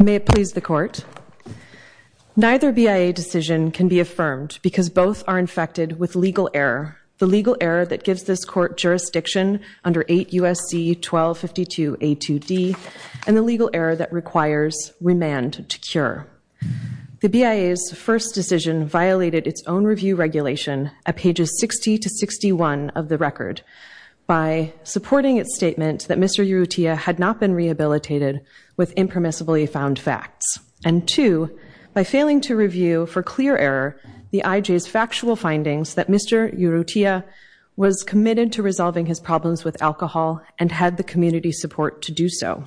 May it please the court. Neither BIA decision can be affirmed because both are infected with legal error. The legal error that gives this court jurisdiction under 8 U.S.C. 1252 A.2.D. and the legal error that requires remand to cure. The BIA's first decision violated its own review regulation at pages 60 to 61 of the record by supporting its statement that Mr. Urrutia had not been rehabilitated with impermissibly found facts and two by failing to review for clear error the IJ's factual findings that Mr. Urrutia was committed to resolving his problems with alcohol and had the community support to do so.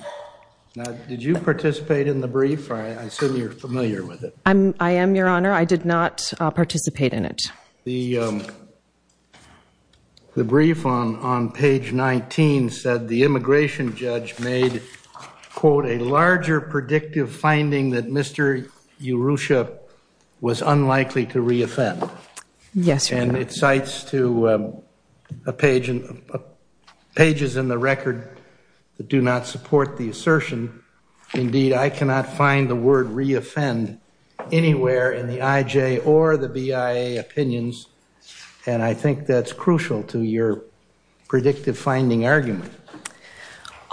Did you participate in the brief? I assume you're familiar with it. I am your honor. I did not participate in it. The brief on page 19 said the immigration judge made, quote, a larger predictive finding that Mr. Urrutia was unlikely to re-offend. Yes, sir. And it cites to pages in the record that do not support the assertion. Indeed, I cannot find the word re-offend anywhere in the IJ or the BIA opinions. And I think that's crucial to your predictive finding argument.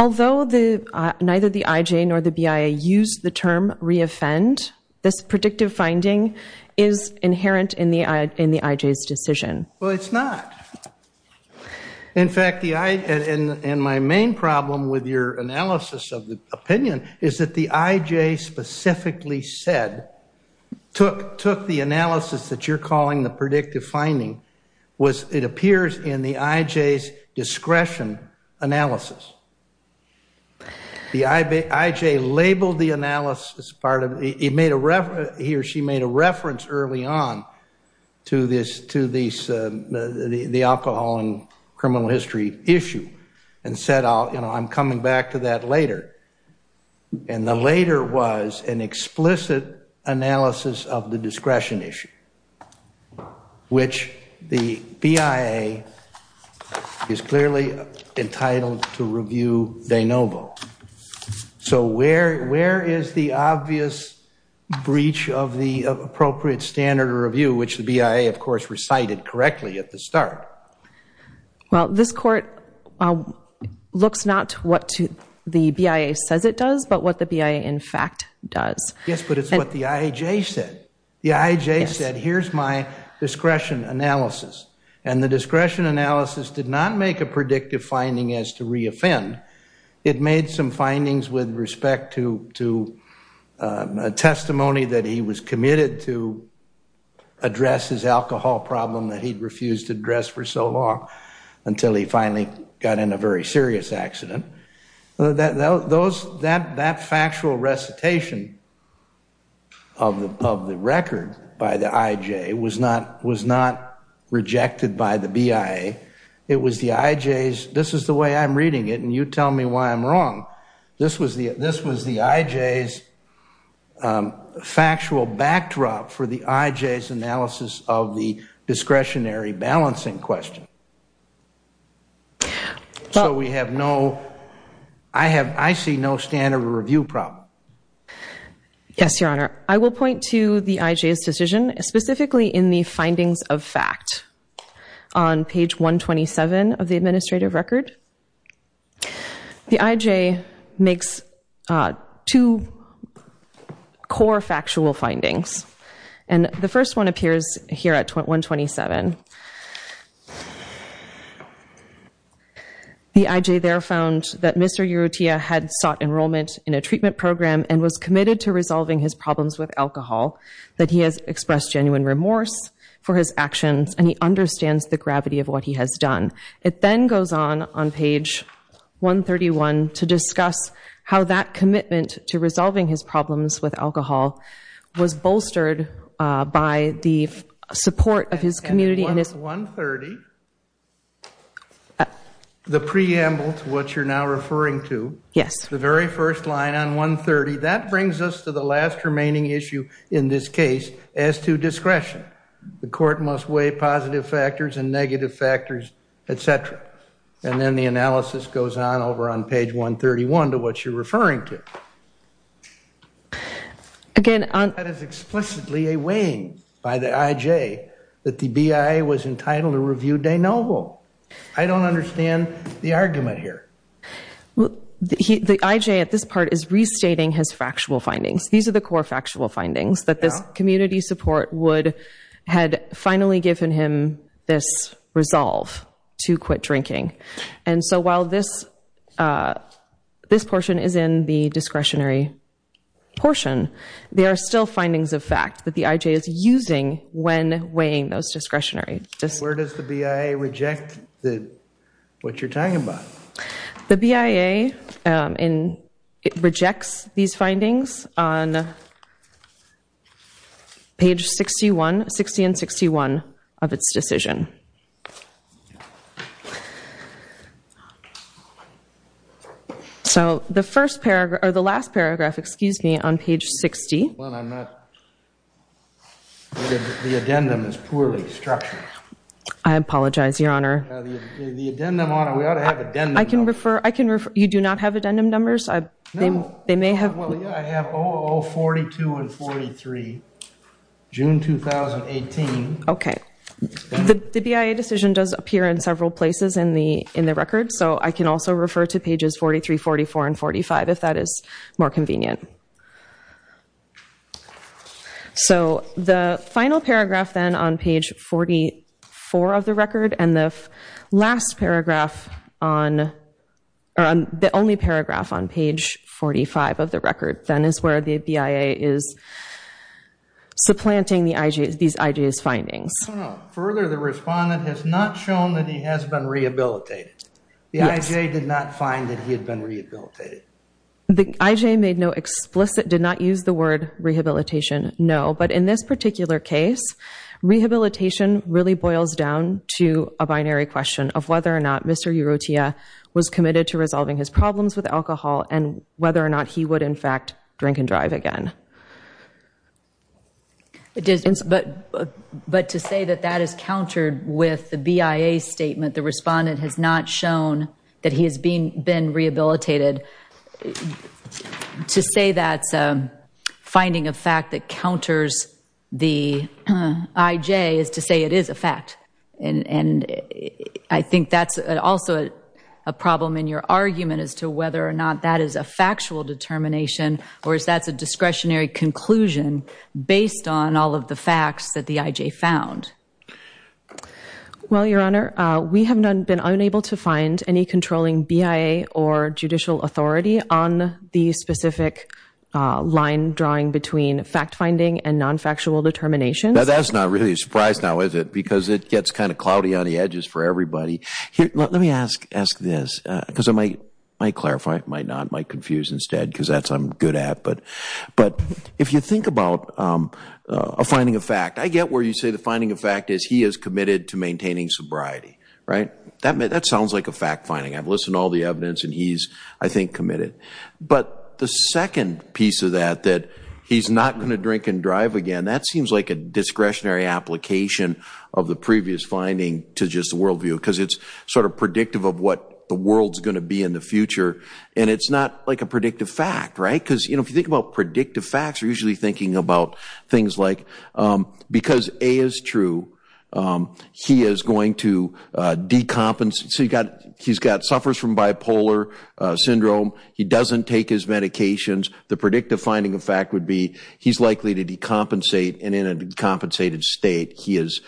Although neither the IJ nor the BIA used the term re-offend, this predictive finding is inherent in the IJ's decision. Well, it's not. In fact, and my main problem with your analysis of the opinion is that the IJ specifically said, took the analysis that you're calling the predictive finding, was it appears in the IJ's discretion analysis. The IJ labeled the analysis as part of, he or she made a reference early on to the alcohol and criminal history issue and said, you know, I'm coming back to that later. And the later was an explicit analysis of the discretion issue, which the BIA is clearly entitled to review de novo. So where is the obvious breach of the appropriate standard of review, which the BIA, of course, recited correctly at the start? Well, this court looks not what the BIA says it does, but what the BIA in fact does. Yes, but it's what the IJ said. The IJ said, here's my discretion analysis. And the discretion analysis did not make a predictive finding as to re-offend. It made some findings with respect to a testimony that he was committed to address his alcohol problem that he'd refused to address for so long until he finally got in a very serious accident. That factual recitation of the record by the IJ was not rejected by the BIA. It was the IJ's, this is the way I'm reading it, and you tell me why I'm wrong. This was the IJ's factual backdrop for the IJ's analysis of the discretionary balancing question. So we have no, I see no standard of review problem. Yes, Your Honor. I will point to the IJ's decision, specifically in the findings of fact. On page 127 of the administrative record, the IJ makes two core factual findings. And the first one appears here at 127. The IJ there found that Mr. Urrutia had sought enrollment in a treatment program and was committed to resolving his problems with alcohol, that he has expressed genuine remorse for his actions, and he understands the gravity of what he has done. It then goes on on page 131 to discuss how that commitment to resolving his problems with alcohol was bolstered by the support of his community. And at 130, the preamble to what you're now referring to, the very first line on 130, that brings us to the last remaining issue in this case as to discretion. The court must weigh positive factors and negative factors, et cetera. And then the analysis goes on over on page 131 to what you're referring to. That is explicitly a weighing by the IJ that the BIA was entitled to review De Novo. I don't understand the argument here. The IJ at this part is restating his factual findings. These are the core factual findings that this community support would have finally given him this resolve to quit drinking. And so while this portion is in the discretionary portion, there are still findings of fact that the IJ is using when weighing those discretionary. Where does the BIA reject what you're talking about? The BIA rejects these findings on page 60 and 61 of its decision. So the last paragraph, excuse me, on page 60. Well, the addendum is poorly structured. I apologize, Your Honor. The addendum, Your Honor, we ought to have addendum numbers. You do not have addendum numbers? No. They may have. Well, yeah, I have 042 and 43, June 2018. Okay. The BIA decision does appear in several places in the record. So I can also refer to pages 43, 44, and 45 if that is more convenient. So the final paragraph, then, on page 44 of the record, and the last paragraph on the only paragraph on page 45 of the record, then, is where the BIA is supplanting these IJ's findings. Further, the respondent has not shown that he has been rehabilitated. The IJ did not find that he had been rehabilitated. The IJ made no explicit, did not use the word rehabilitation, no. But in this particular case, rehabilitation really boils down to a binary question of whether or not Mr. Urrutia was committed to resolving his problems with alcohol and whether or not he would, in fact, drink and drive again. But to say that that is countered with the BIA statement, the respondent has not shown that he has been rehabilitated, to say that's finding a fact that counters the IJ is to say it is a fact. And I think that's also a problem in your argument as to whether or not that is a factual determination or if that's a discretionary conclusion based on all of the facts that the IJ found. Well, Your Honor, we have been unable to find any controlling BIA or judicial authority on the specific line drawing between fact-finding and non-factual determinations. Now that's not really a surprise now, is it? Because it gets kind of cloudy on the edges for everybody. Let me ask this, because I might clarify, I might not, I might confuse instead, because that's what I'm good at. But if you think about a finding of fact, I get where you say the finding of fact is he is committed to maintaining sobriety, right? That sounds like a fact-finding. I've listened to all the evidence, and he's, I think, committed. But the second piece of that, that he's not going to drink and drive again, that seems like a discretionary application of the previous finding to just the worldview, because it's sort of predictive of what the world's going to be in the future, and it's not like a predictive fact, right? Because if you think about predictive facts, you're usually thinking about things like, because A is true, he is going to decompensate, so he's got, suffers from bipolar syndrome. He doesn't take his medications. The predictive finding of fact would be he's likely to decompensate, and in a decompensated state, he is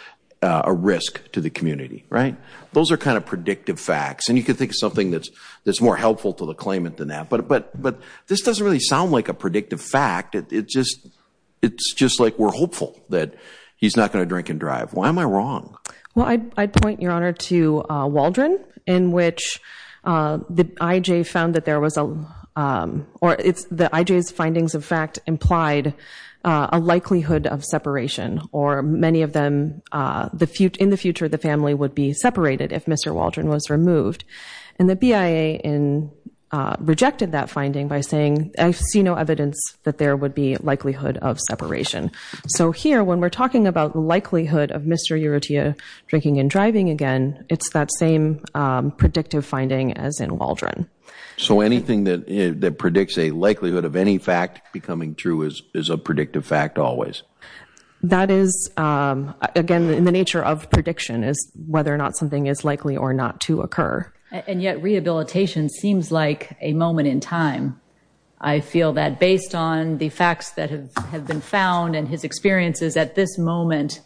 a risk to the community, right? Those are kind of predictive facts, and you can think of something that's more helpful to the claimant than that. But this doesn't really sound like a predictive fact. It's just like we're hopeful that he's not going to drink and drive. Why am I wrong? Well, I'd point, Your Honor, to Waldron, in which the IJ found that there was a, or the IJ's findings of fact implied a likelihood of separation, or many of them, in the future, the family would be separated if Mr. Waldron was removed. And the BIA rejected that finding by saying, I see no evidence that there would be likelihood of separation. So here, when we're talking about the likelihood of Mr. Urrutia drinking and driving again, it's that same predictive finding as in Waldron. So anything that predicts a likelihood of any fact becoming true is a predictive fact always? That is, again, in the nature of prediction, is whether or not something is likely or not to occur. And yet rehabilitation seems like a moment in time. I feel that based on the facts that have been found and his experiences at this moment,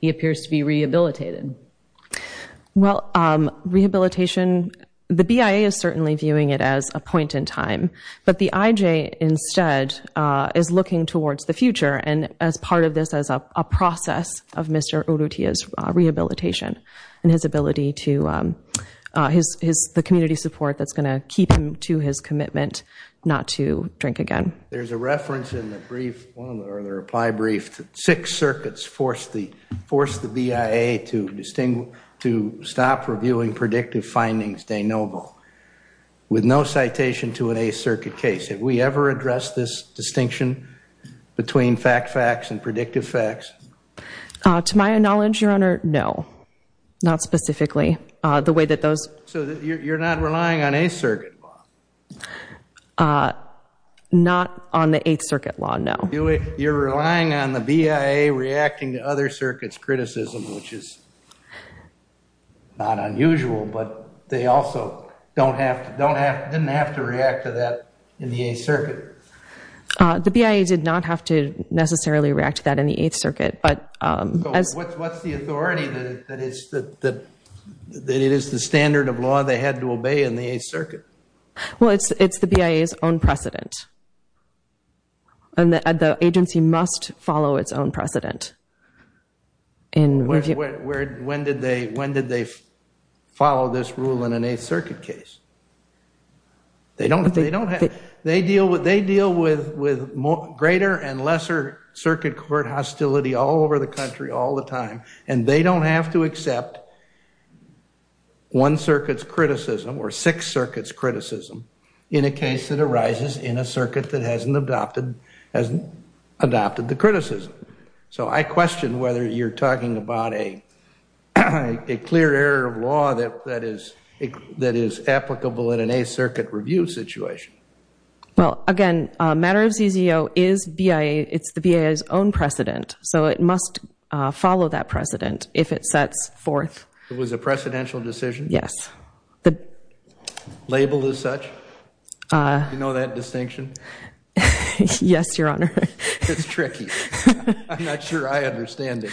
he appears to be rehabilitated. Well, rehabilitation, the BIA is certainly viewing it as a point in time, but the IJ instead is looking towards the future. And as part of this, as a process of Mr. Urrutia's rehabilitation and his ability to, the community support that's going to keep him to his commitment not to drink again. There's a reference in the brief, or the reply brief, that six circuits forced the BIA to stop reviewing predictive findings de novo, with no citation to an A circuit case. Have we ever addressed this distinction between fact facts and predictive facts? To my knowledge, Your Honor, no. Not specifically. So you're not relying on A circuit law? Not on the A circuit law, no. You're relying on the BIA reacting to other circuits' criticism, which is not unusual, but they also didn't have to react to that in the A circuit. The BIA did not have to necessarily react to that in the A circuit. So what's the authority that it is the standard of law they had to obey in the A circuit? Well, it's the BIA's own precedent. The agency must follow its own precedent. When did they follow this rule in an A circuit case? They deal with greater and lesser circuit court hostility all over the country all the time, and they don't have to accept one circuit's criticism or six circuits' criticism in a case that arises in a circuit that hasn't adopted the criticism. So I question whether you're talking about a clear error of law that is applicable in an A circuit review situation. Well, again, matter of ZZO, it's the BIA's own precedent, so it must follow that precedent if it sets forth. It was a precedential decision? Yes. Labeled as such? Do you know that distinction? Yes, Your Honor. It's tricky. I'm not sure I understand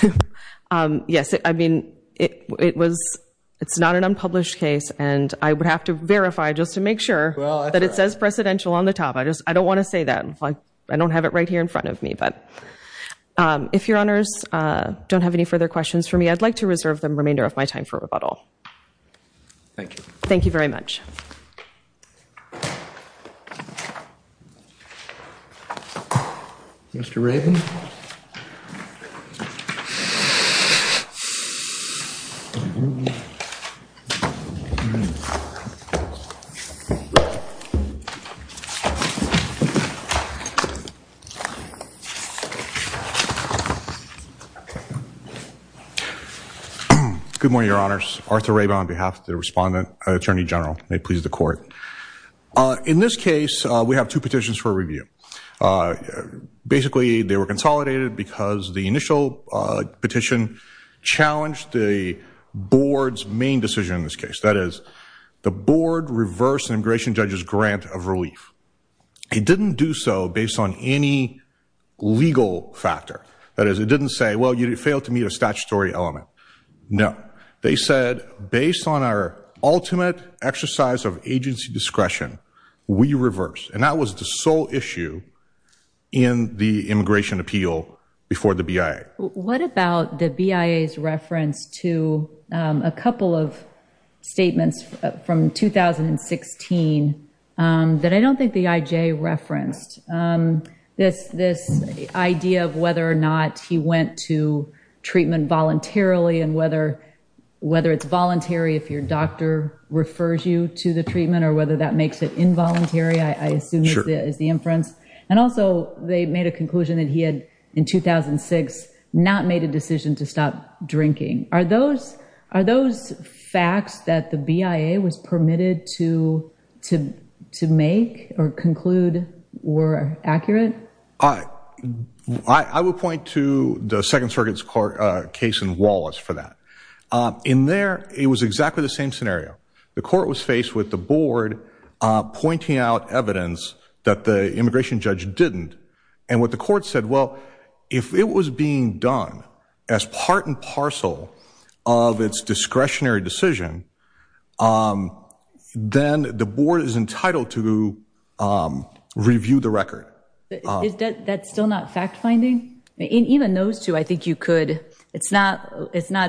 it. Yes, I mean, it's not an unpublished case, and I would have to verify just to make sure that it says precedential on the top. I don't want to say that. I don't have it right here in front of me. If Your Honors don't have any further questions for me, I'd like to reserve the remainder of my time for rebuttal. Thank you. Thank you very much. Mr. Rabin? Good morning, Your Honors. Arthur Rabin on behalf of the Respondent, Attorney General. May it please the Court. In this case, we have two petitions for review. Basically, they were consolidated because the initial petition challenged the Board's main decision in this case. That is, the Board reversed an immigration judge's grant of relief. It didn't do so based on any legal factor. That is, it didn't say, well, you failed to meet a statutory element. No. They said, based on our ultimate exercise of agency discretion, we reversed. And that was the sole issue in the immigration appeal before the BIA. What about the BIA's reference to a couple of statements from 2016 that I don't think the IJ referenced? This idea of whether or not he went to treatment voluntarily and whether it's voluntary if your doctor refers you to the treatment, or whether that makes it involuntary, I assume is the inference. And also, they made a conclusion that he had, in 2006, not made a decision to stop drinking. Are those facts that the BIA was permitted to make or conclude were accurate? I would point to the Second Circuit's case in Wallace for that. In there, it was exactly the same scenario. The Court was faced with the Board pointing out evidence that the immigration judge didn't. And what the Court said, well, if it was being done as part and parcel of its discretionary decision, then the Board is entitled to review the record. Is that still not fact-finding? Even those two, I think you could. It's not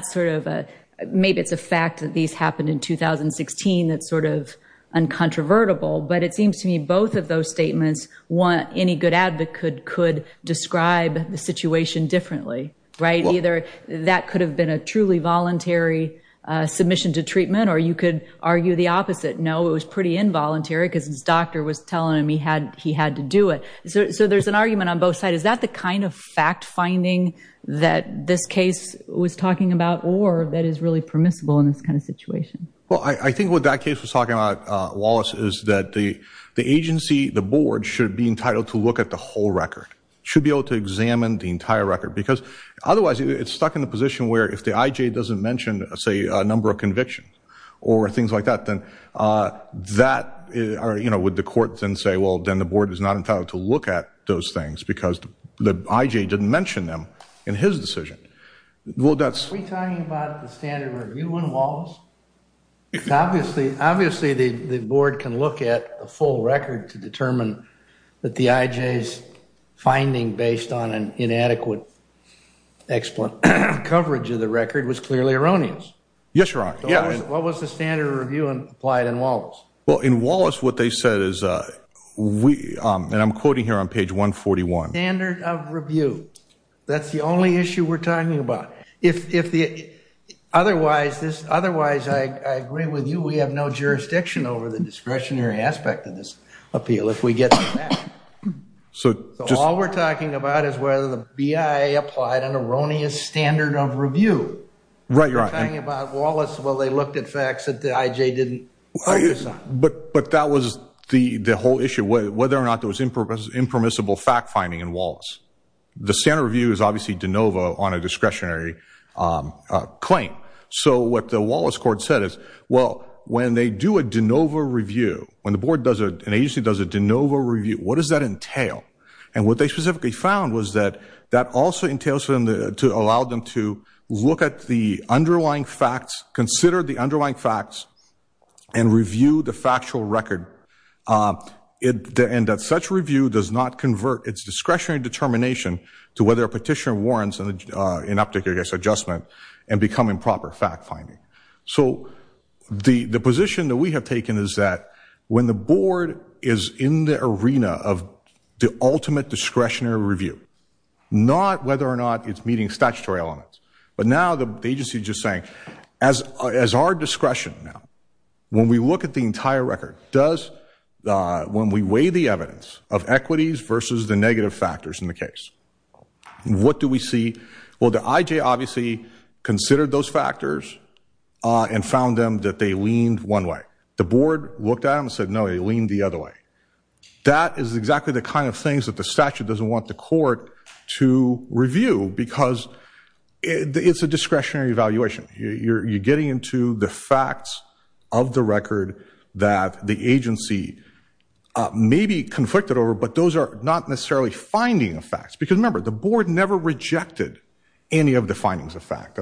sort of a, maybe it's a fact that these happened in 2016 that's sort of uncontrovertible. But it seems to me both of those statements, any good advocate could describe the situation differently, right? Either that could have been a truly voluntary submission to treatment or you could argue the opposite. No, it was pretty involuntary because his doctor was telling him he had to do it. So there's an argument on both sides. Is that the kind of fact-finding that this case was talking about or that is really permissible in this kind of situation? Well, I think what that case was talking about, Wallace, is that the agency, the Board, should be entitled to look at the whole record. Should be able to examine the entire record. Because otherwise, it's stuck in the position where if the IJ doesn't mention, say, a number of convictions or things like that, then that, you know, would the Court then say, well, then the Board is not entitled to look at those things because the IJ didn't mention them in his decision. Are we talking about the standard review in Wallace? Obviously, the Board can look at a full record to determine that the IJ's finding based on an inadequate coverage of the record was clearly erroneous. Yes, Your Honor. What was the standard review applied in Wallace? Well, in Wallace, what they said is, and I'm quoting here on page 141. That's the only issue we're talking about. Otherwise, I agree with you. We have no jurisdiction over the discretionary aspect of this appeal if we get to that. So all we're talking about is whether the BIA applied an erroneous standard of review. Right, Your Honor. We're talking about Wallace. Well, they looked at facts that the IJ didn't focus on. But that was the whole issue, whether or not there was impermissible fact-finding in Wallace. The standard review is obviously de novo on a discretionary claim. So what the Wallace Court said is, well, when they do a de novo review, when an agency does a de novo review, what does that entail? And what they specifically found was that that also entails for them to allow them to look at the underlying facts, consider the underlying facts, and review the factual record. And that such review does not convert its discretionary determination to whether a petitioner warrants an ineptitude against adjustment and become improper fact-finding. So the position that we have taken is that when the board is in the arena of the ultimate discretionary review, not whether or not it's meeting statutory elements, but now the agency is just saying, as our discretion now, when we look at the entire record, when we weigh the evidence of equities versus the negative factors in the case, what do we see? Well, the IJ obviously considered those factors and found them that they leaned one way. The board looked at them and said, no, they leaned the other way. That is exactly the kind of things that the statute doesn't want the court to review because it's a discretionary evaluation. You're getting into the facts of the record that the agency may be conflicted over, but those are not necessarily finding of facts. Because remember, the board never rejected any of the findings of fact.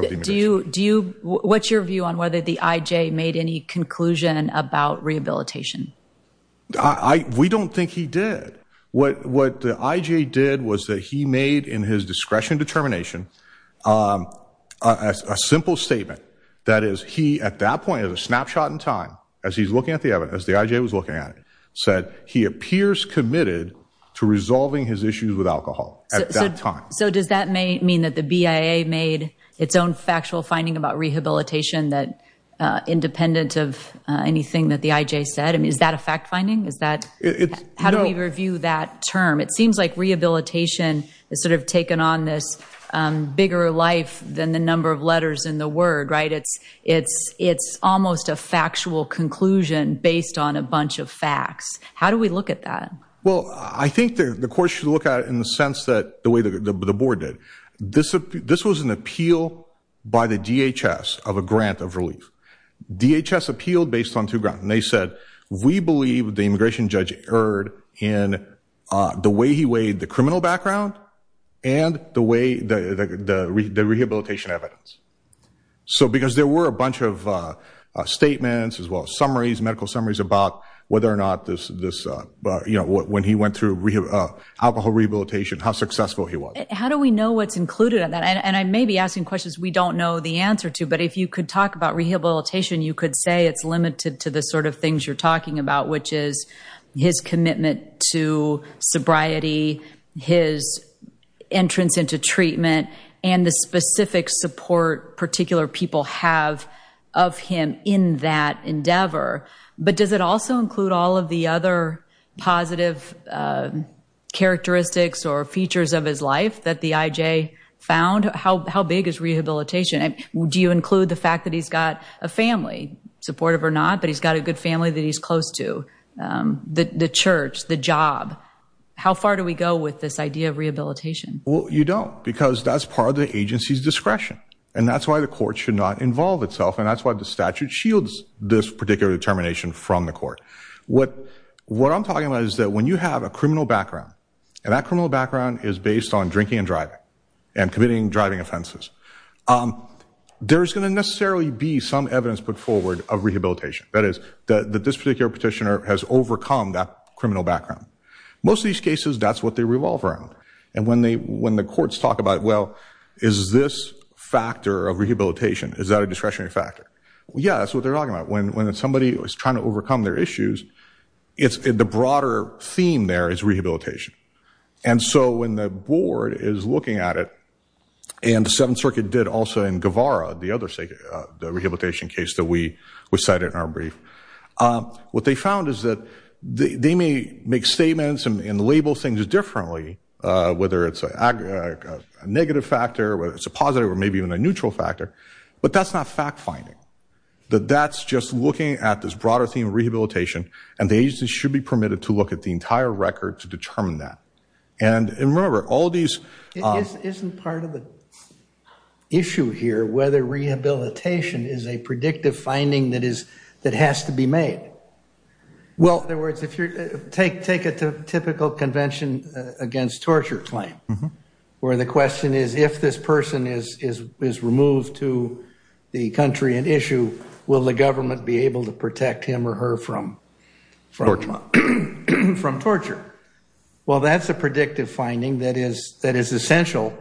What's your view on whether the IJ made any conclusion about rehabilitation? We don't think he did. What the IJ did was that he made in his discretion determination a simple statement. That is, he at that point, as a snapshot in time, as he's looking at the evidence, the IJ was looking at it, said he appears committed to resolving his issues with alcohol at that time. So does that mean that the BIA made its own factual finding about rehabilitation independent of anything that the IJ said? I mean, is that a fact finding? How do we review that term? It seems like rehabilitation has sort of taken on this bigger life than the number of letters in the word, right? It's almost a factual conclusion based on a bunch of facts. How do we look at that? Well, I think the court should look at it in the sense that the way the board did. This was an appeal by the DHS of a grant of relief. DHS appealed based on two grants, and they said, we believe the immigration judge erred in the way he weighed the criminal background and the rehabilitation evidence. So because there were a bunch of statements as well as summaries, medical summaries, about whether or not when he went through alcohol rehabilitation, how successful he was. How do we know what's included in that? And I may be asking questions we don't know the answer to, but if you could talk about rehabilitation, you could say it's limited to the sort of things you're talking about, which is his commitment to sobriety, his entrance into treatment, and the specific support particular people have of him in that endeavor. But does it also include all of the other positive characteristics or features of his life that the IJ found? How big is rehabilitation? Do you include the fact that he's got a family, supportive or not, but he's got a good family that he's close to, the church, the job? How far do we go with this idea of rehabilitation? Well, you don't, because that's part of the agency's discretion, and that's why the court should not involve itself, and that's why the statute shields this particular determination from the court. What I'm talking about is that when you have a criminal background, and that criminal background is based on drinking and driving and committing driving offenses, there's going to necessarily be some evidence put forward of rehabilitation. That is, that this particular petitioner has overcome that criminal background. Most of these cases, that's what they revolve around, and when the courts talk about, well, is this factor of rehabilitation, is that a discretionary factor? Yeah, that's what they're talking about. When somebody is trying to overcome their issues, the broader theme there is rehabilitation, and so when the board is looking at it, and the Seventh Circuit did also in Guevara, the other rehabilitation case that we cited in our brief, what they found is that they may make statements and label things differently, whether it's a negative factor, whether it's a positive or maybe even a neutral factor, but that's not fact-finding. That's just looking at this broader theme of rehabilitation, and the agency should be permitted to look at the entire record to determine that. And remember, all these... Isn't part of the issue here whether rehabilitation is a predictive finding that has to be made? Well, in other words, take a typical convention against torture claim, where the question is, if this person is removed to the country and issued, will the government be able to protect him or her from torture? Well, that's a predictive finding that is essential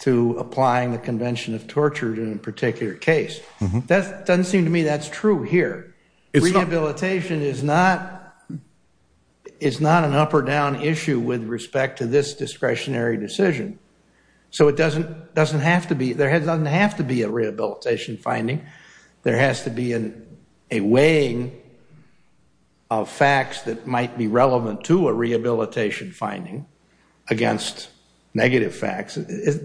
to applying the convention of torture in a particular case. It doesn't seem to me that's true here. Rehabilitation is not an up-or-down issue with respect to this discretionary decision. So it doesn't have to be. There doesn't have to be a rehabilitation finding. There has to be a weighing of facts that might be relevant to a rehabilitation finding against negative facts.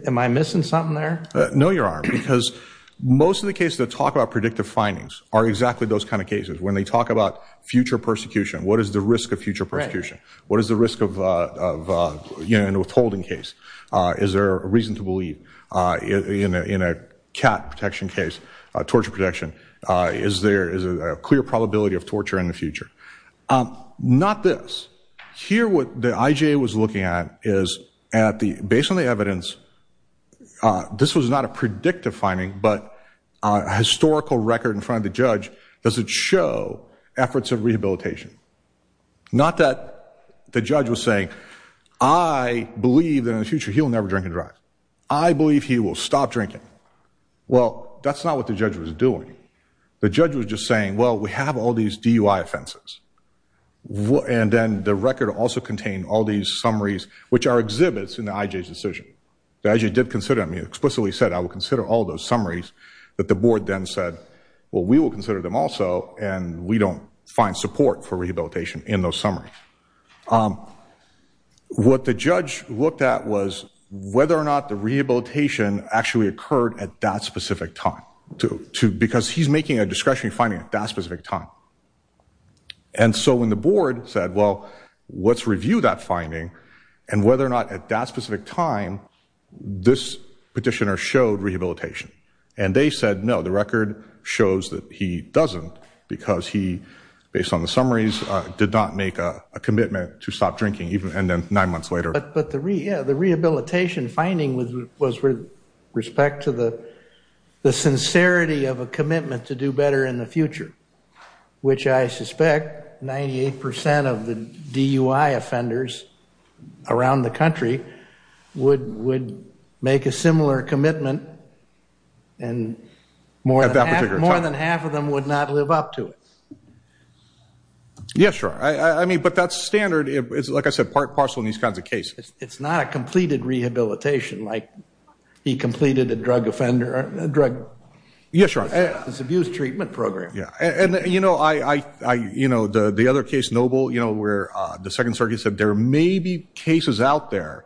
Am I missing something there? No, you are, because most of the cases that talk about predictive findings are exactly those kind of cases. When they talk about future persecution, what is the risk of future persecution? What is the risk of an withholding case? Is there a reason to believe in a cat protection case, torture protection? Is there a clear probability of torture in the future? Not this. Here what the IJA was looking at is, based on the evidence, this was not a predictive finding, but a historical record in front of the judge, does it show efforts of rehabilitation? Not that the judge was saying, I believe that in the future he will never drink and drive. I believe he will stop drinking. Well, that's not what the judge was doing. The judge was just saying, well, we have all these DUI offenses. And then the record also contained all these summaries, which are exhibits in the IJA's decision. The IJA did consider them. He explicitly said, I will consider all those summaries. But the board then said, well, we will consider them also, and we don't find support for rehabilitation in those summaries. What the judge looked at was whether or not the rehabilitation actually occurred at that specific time, because he's making a discretionary finding at that specific time. And so when the board said, well, let's review that finding, and whether or not at that specific time this petitioner showed rehabilitation. And they said, no, the record shows that he doesn't because he, based on the summaries, did not make a commitment to stop drinking, and then nine months later. But the rehabilitation finding was with respect to the sincerity of a commitment to do better in the future, which I suspect 98% of the DUI offenders around the country would make a similar commitment, and more than half of them would not live up to it. Yeah, sure. I mean, but that standard is, like I said, part and parcel in these kinds of cases. It's not a completed rehabilitation, like he completed a drug offender, a drug abuse treatment program. Yeah. And, you know, the other case, Noble, where the Second Circuit said there may be cases out there,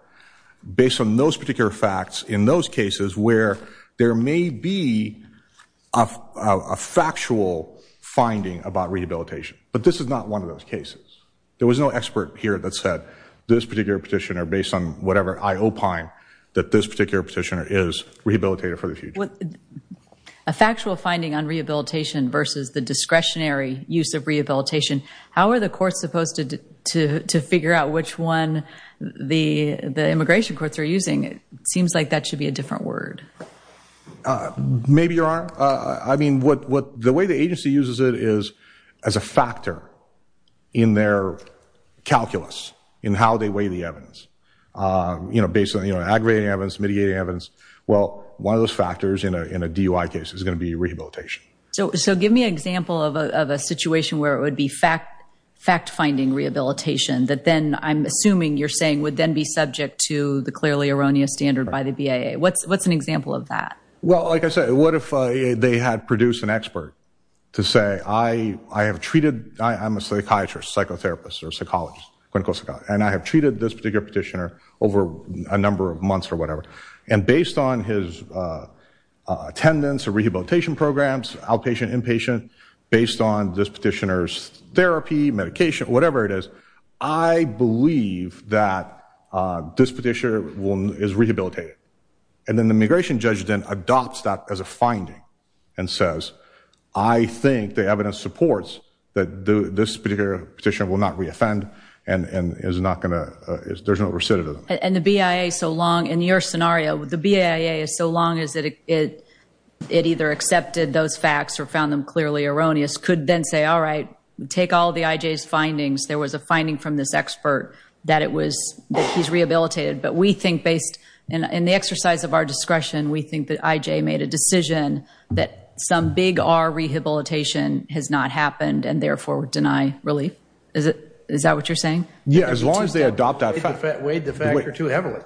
based on those particular facts in those cases, where there may be a factual finding about rehabilitation. But this is not one of those cases. There was no expert here that said this particular petitioner, based on whatever I opine, that this particular petitioner is rehabilitated for the future. A factual finding on rehabilitation versus the discretionary use of rehabilitation. How are the courts supposed to figure out which one the immigration courts are using? It seems like that should be a different word. Maybe you are. I mean, the way the agency uses it is as a factor in their calculus, in how they weigh the evidence. You know, based on aggravating evidence, mitigating evidence. Well, one of those factors in a DUI case is going to be rehabilitation. So give me an example of a situation where it would be fact-finding rehabilitation that then, I'm assuming you're saying, would then be subject to the clearly erroneous standard by the BIA. What's an example of that? Well, like I said, what if they had produced an expert to say, I have treated, I'm a psychiatrist, psychotherapist, or psychologist, clinical psychologist, and I have treated this particular petitioner over a number of months or whatever. And based on his attendance or rehabilitation programs, outpatient, inpatient, based on this petitioner's therapy, medication, whatever it is, I believe that this petitioner is rehabilitated. And then the immigration judge then adopts that as a finding and says, I think the evidence supports that this particular petitioner will not re-offend and is not going to, there's no recidivism. And the BIA, so long, in your scenario, the BIA, so long as it either accepted those facts or found them clearly erroneous, could then say, all right, take all the IJ's findings. There was a finding from this expert that it was, that he's rehabilitated. But we think based, in the exercise of our discretion, we think that IJ made a decision that some big R rehabilitation has not happened and therefore would deny relief. Is that what you're saying? Yeah, as long as they adopt that fact. Weighed the factor too heavily.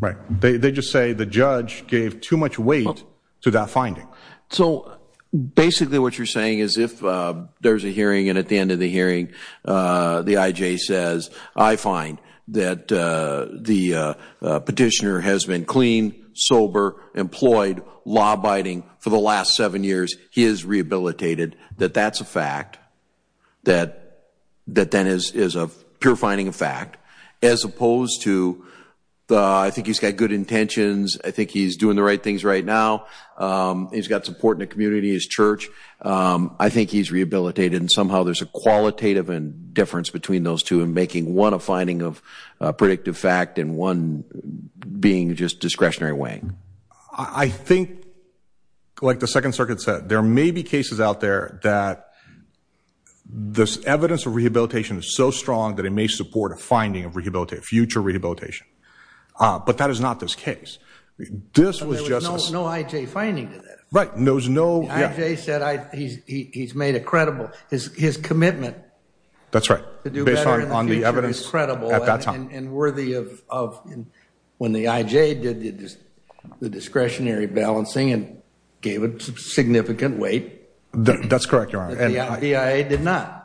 Right. They just say the judge gave too much weight to that finding. So basically what you're saying is if there's a hearing and at the end of the hearing the IJ says, I find that the petitioner has been clean, sober, employed, law abiding for the last seven years. He is rehabilitated. That that's a fact. That then is a pure finding of fact. As opposed to, I think he's got good intentions. I think he's doing the right things right now. He's got support in the community, his church. I think he's rehabilitated. And somehow there's a qualitative difference between those two in making one a finding of predictive fact and one being just discretionary weighing. I think, like the Second Circuit said, there may be cases out there that this evidence of rehabilitation is so strong that it may support a finding of future rehabilitation. But that is not this case. There was no IJ finding to that. Right. The IJ said he's made a credible, his commitment to do better in the future is credible and worthy of when the IJ did the discretionary balancing and gave it significant weight. That's correct, Your Honor. The DIA did not.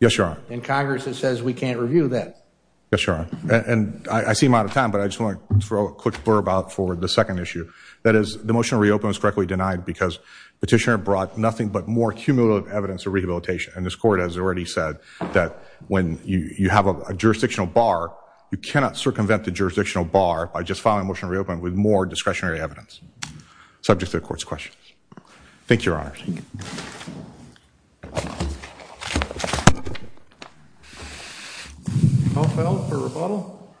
Yes, Your Honor. And Congress says we can't review that. Yes, Your Honor. And I see I'm out of time, but I just want to throw a quick blurb out for the second issue. That is, the motion to reopen was correctly denied because Petitioner brought nothing but more cumulative evidence of rehabilitation. And this Court has already said that when you have a jurisdictional bar, you cannot circumvent the jurisdictional bar by just filing a motion to reopen with more discretionary evidence, subject to the Court's questions. Thank you, Your Honor. All those for rebuttal?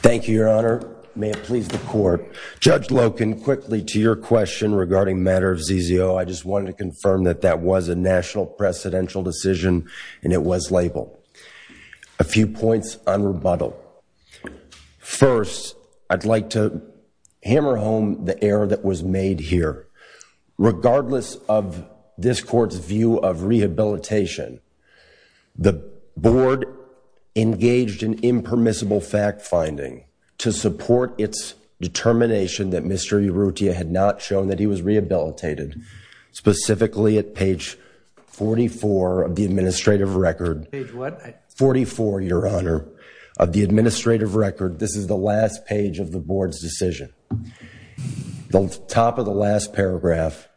Thank you, Your Honor. May it please the Court. Judge Loken, quickly to your question regarding matter of ZZO. I just wanted to confirm that that was a national presidential decision and it was labeled. A few points on rebuttal. First, I'd like to hammer home the error that was made here. Regardless of this Court's view of rehabilitation, the Board engaged in impermissible fact-finding to support its determination that Mr. Urrutia had not shown that he was rehabilitated, specifically at page 44 of the administrative record. Page what? 44, Your Honor, of the administrative record. This is the last page of the Board's decision. The top of the last paragraph,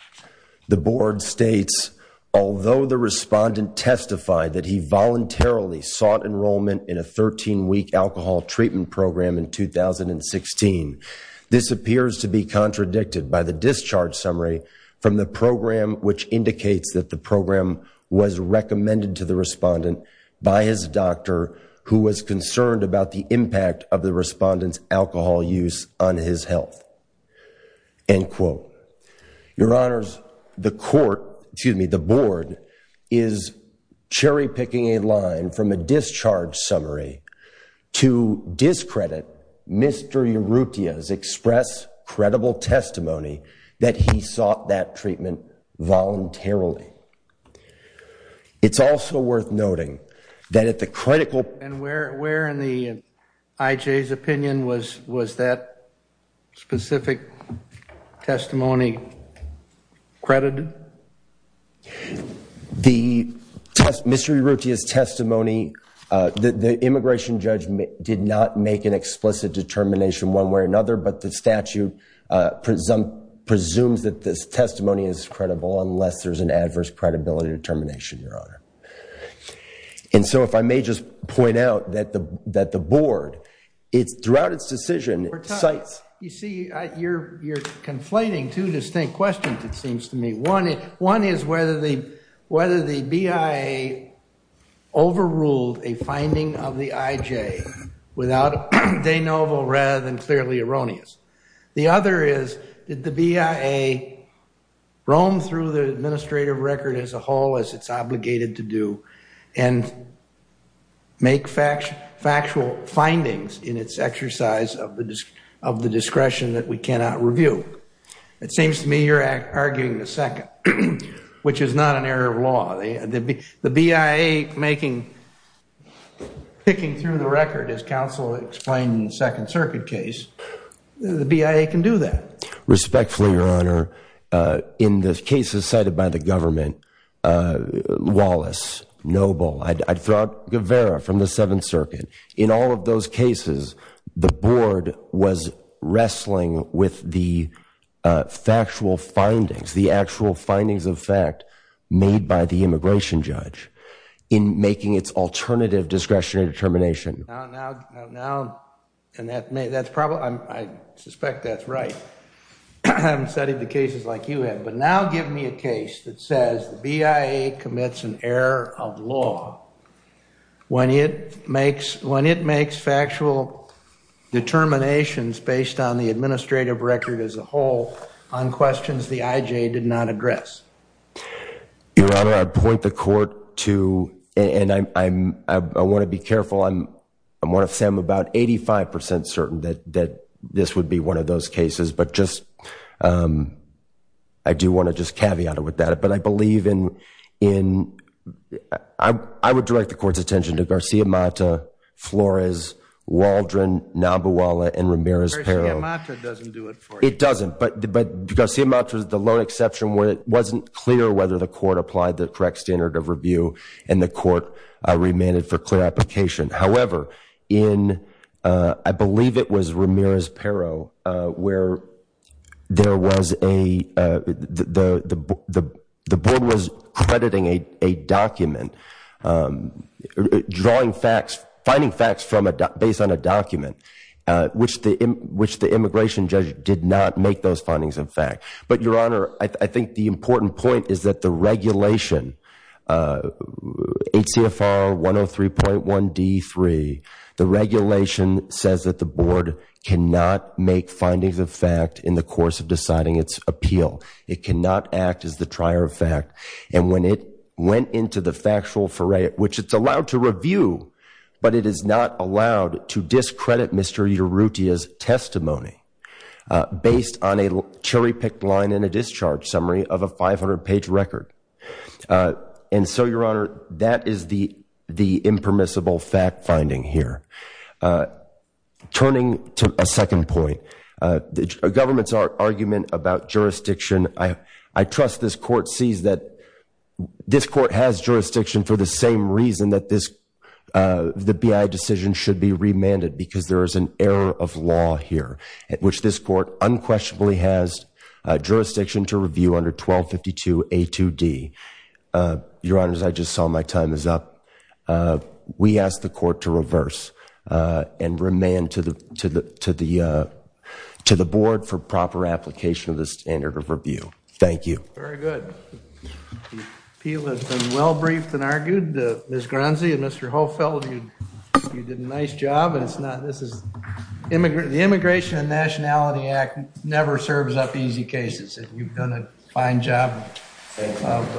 the Board states, although the respondent testified that he voluntarily sought enrollment in a 13-week alcohol treatment program in 2016, this appears to be contradicted by the discharge summary from the program, which indicates that the program was recommended to the respondent by his doctor, who was concerned about the impact of the respondent's alcohol use on his health. End quote. Your Honors, the Court, excuse me, the Board, is cherry-picking a line from a discharge summary to discredit Mr. Urrutia's express credible testimony that he sought that treatment voluntarily. It's also worth noting that at the critical point IJ's opinion, was that specific testimony credited? The Mr. Urrutia's testimony, the immigration judge did not make an explicit determination one way or another, but the statute presumes that this testimony is credible unless there's an adverse credibility determination, Your Honor. And so if I may just point out that the Board, throughout its decision, cites... You see, you're conflating two distinct questions, it seems to me. One is whether the BIA overruled a finding of the IJ without de novo rather than clearly erroneous. The other is, did the BIA roam through the administrative record as a whole as it's obligated to do and make factual findings in its exercise of the discretion that we cannot review? It seems to me you're arguing the second, which is not an error of law. The BIA picking through the record, as counsel explained in the Second Circuit case, the BIA can do that. Respectfully, Your Honor, in the cases cited by the government, Wallace, Noble, Guevara from the Seventh Circuit, in all of those cases, the Board was wrestling with the factual findings, the actual findings of fact made by the immigration judge in making its alternative discretionary determination. I suspect that's right. I haven't studied the cases like you have, but now give me a case that says the BIA commits an error of law when it makes factual determinations based on the administrative record as a whole on questions the IJ did not address. Your Honor, I point the court to, and I want to be careful, I want to say I'm about 85% certain that this would be one of those cases, but I do want to just caveat it with that. I would direct the court's attention to Garcia Mata, Flores, Waldron, Nabuola, and Ramirez-Pero. Garcia Mata doesn't do it for you. It doesn't. But Garcia Mata was the lone exception where it wasn't clear whether the court applied the correct standard of review and the court remanded for clear application. However, I believe it was Ramirez-Pero where the board was crediting a document, finding facts based on a document, which the immigration judge did not make those findings a fact. But, Your Honor, I think the important point is that the regulation, HCFR 103.1 D3, the regulation says that the board cannot make findings of fact in the course of deciding its appeal. It cannot act as the trier of fact. And when it went into the factual foray, which it's allowed to review, but it is not allowed to discredit Mr. Urutia's testimony based on a cherry-picked line in a discharge summary of a 500-page record. And so, Your Honor, that is the impermissible fact-finding here. Turning to a second point, the government's argument about jurisdiction, I trust this court sees that this court has jurisdiction for the same reason that the BI decision should be remanded because there is an error of law here at which this court unquestionably has jurisdiction to review under 1252 A2D. Your Honor, as I just saw, my time is up. We ask the court to reverse and remand to the board for proper application of the standard of review. Thank you. Very good. The appeal has been well-briefed and argued. Ms. Granzi and Mr. Hofeld, you did a nice job. The Immigration and Nationality Act never serves up easy cases. You've done a fine job.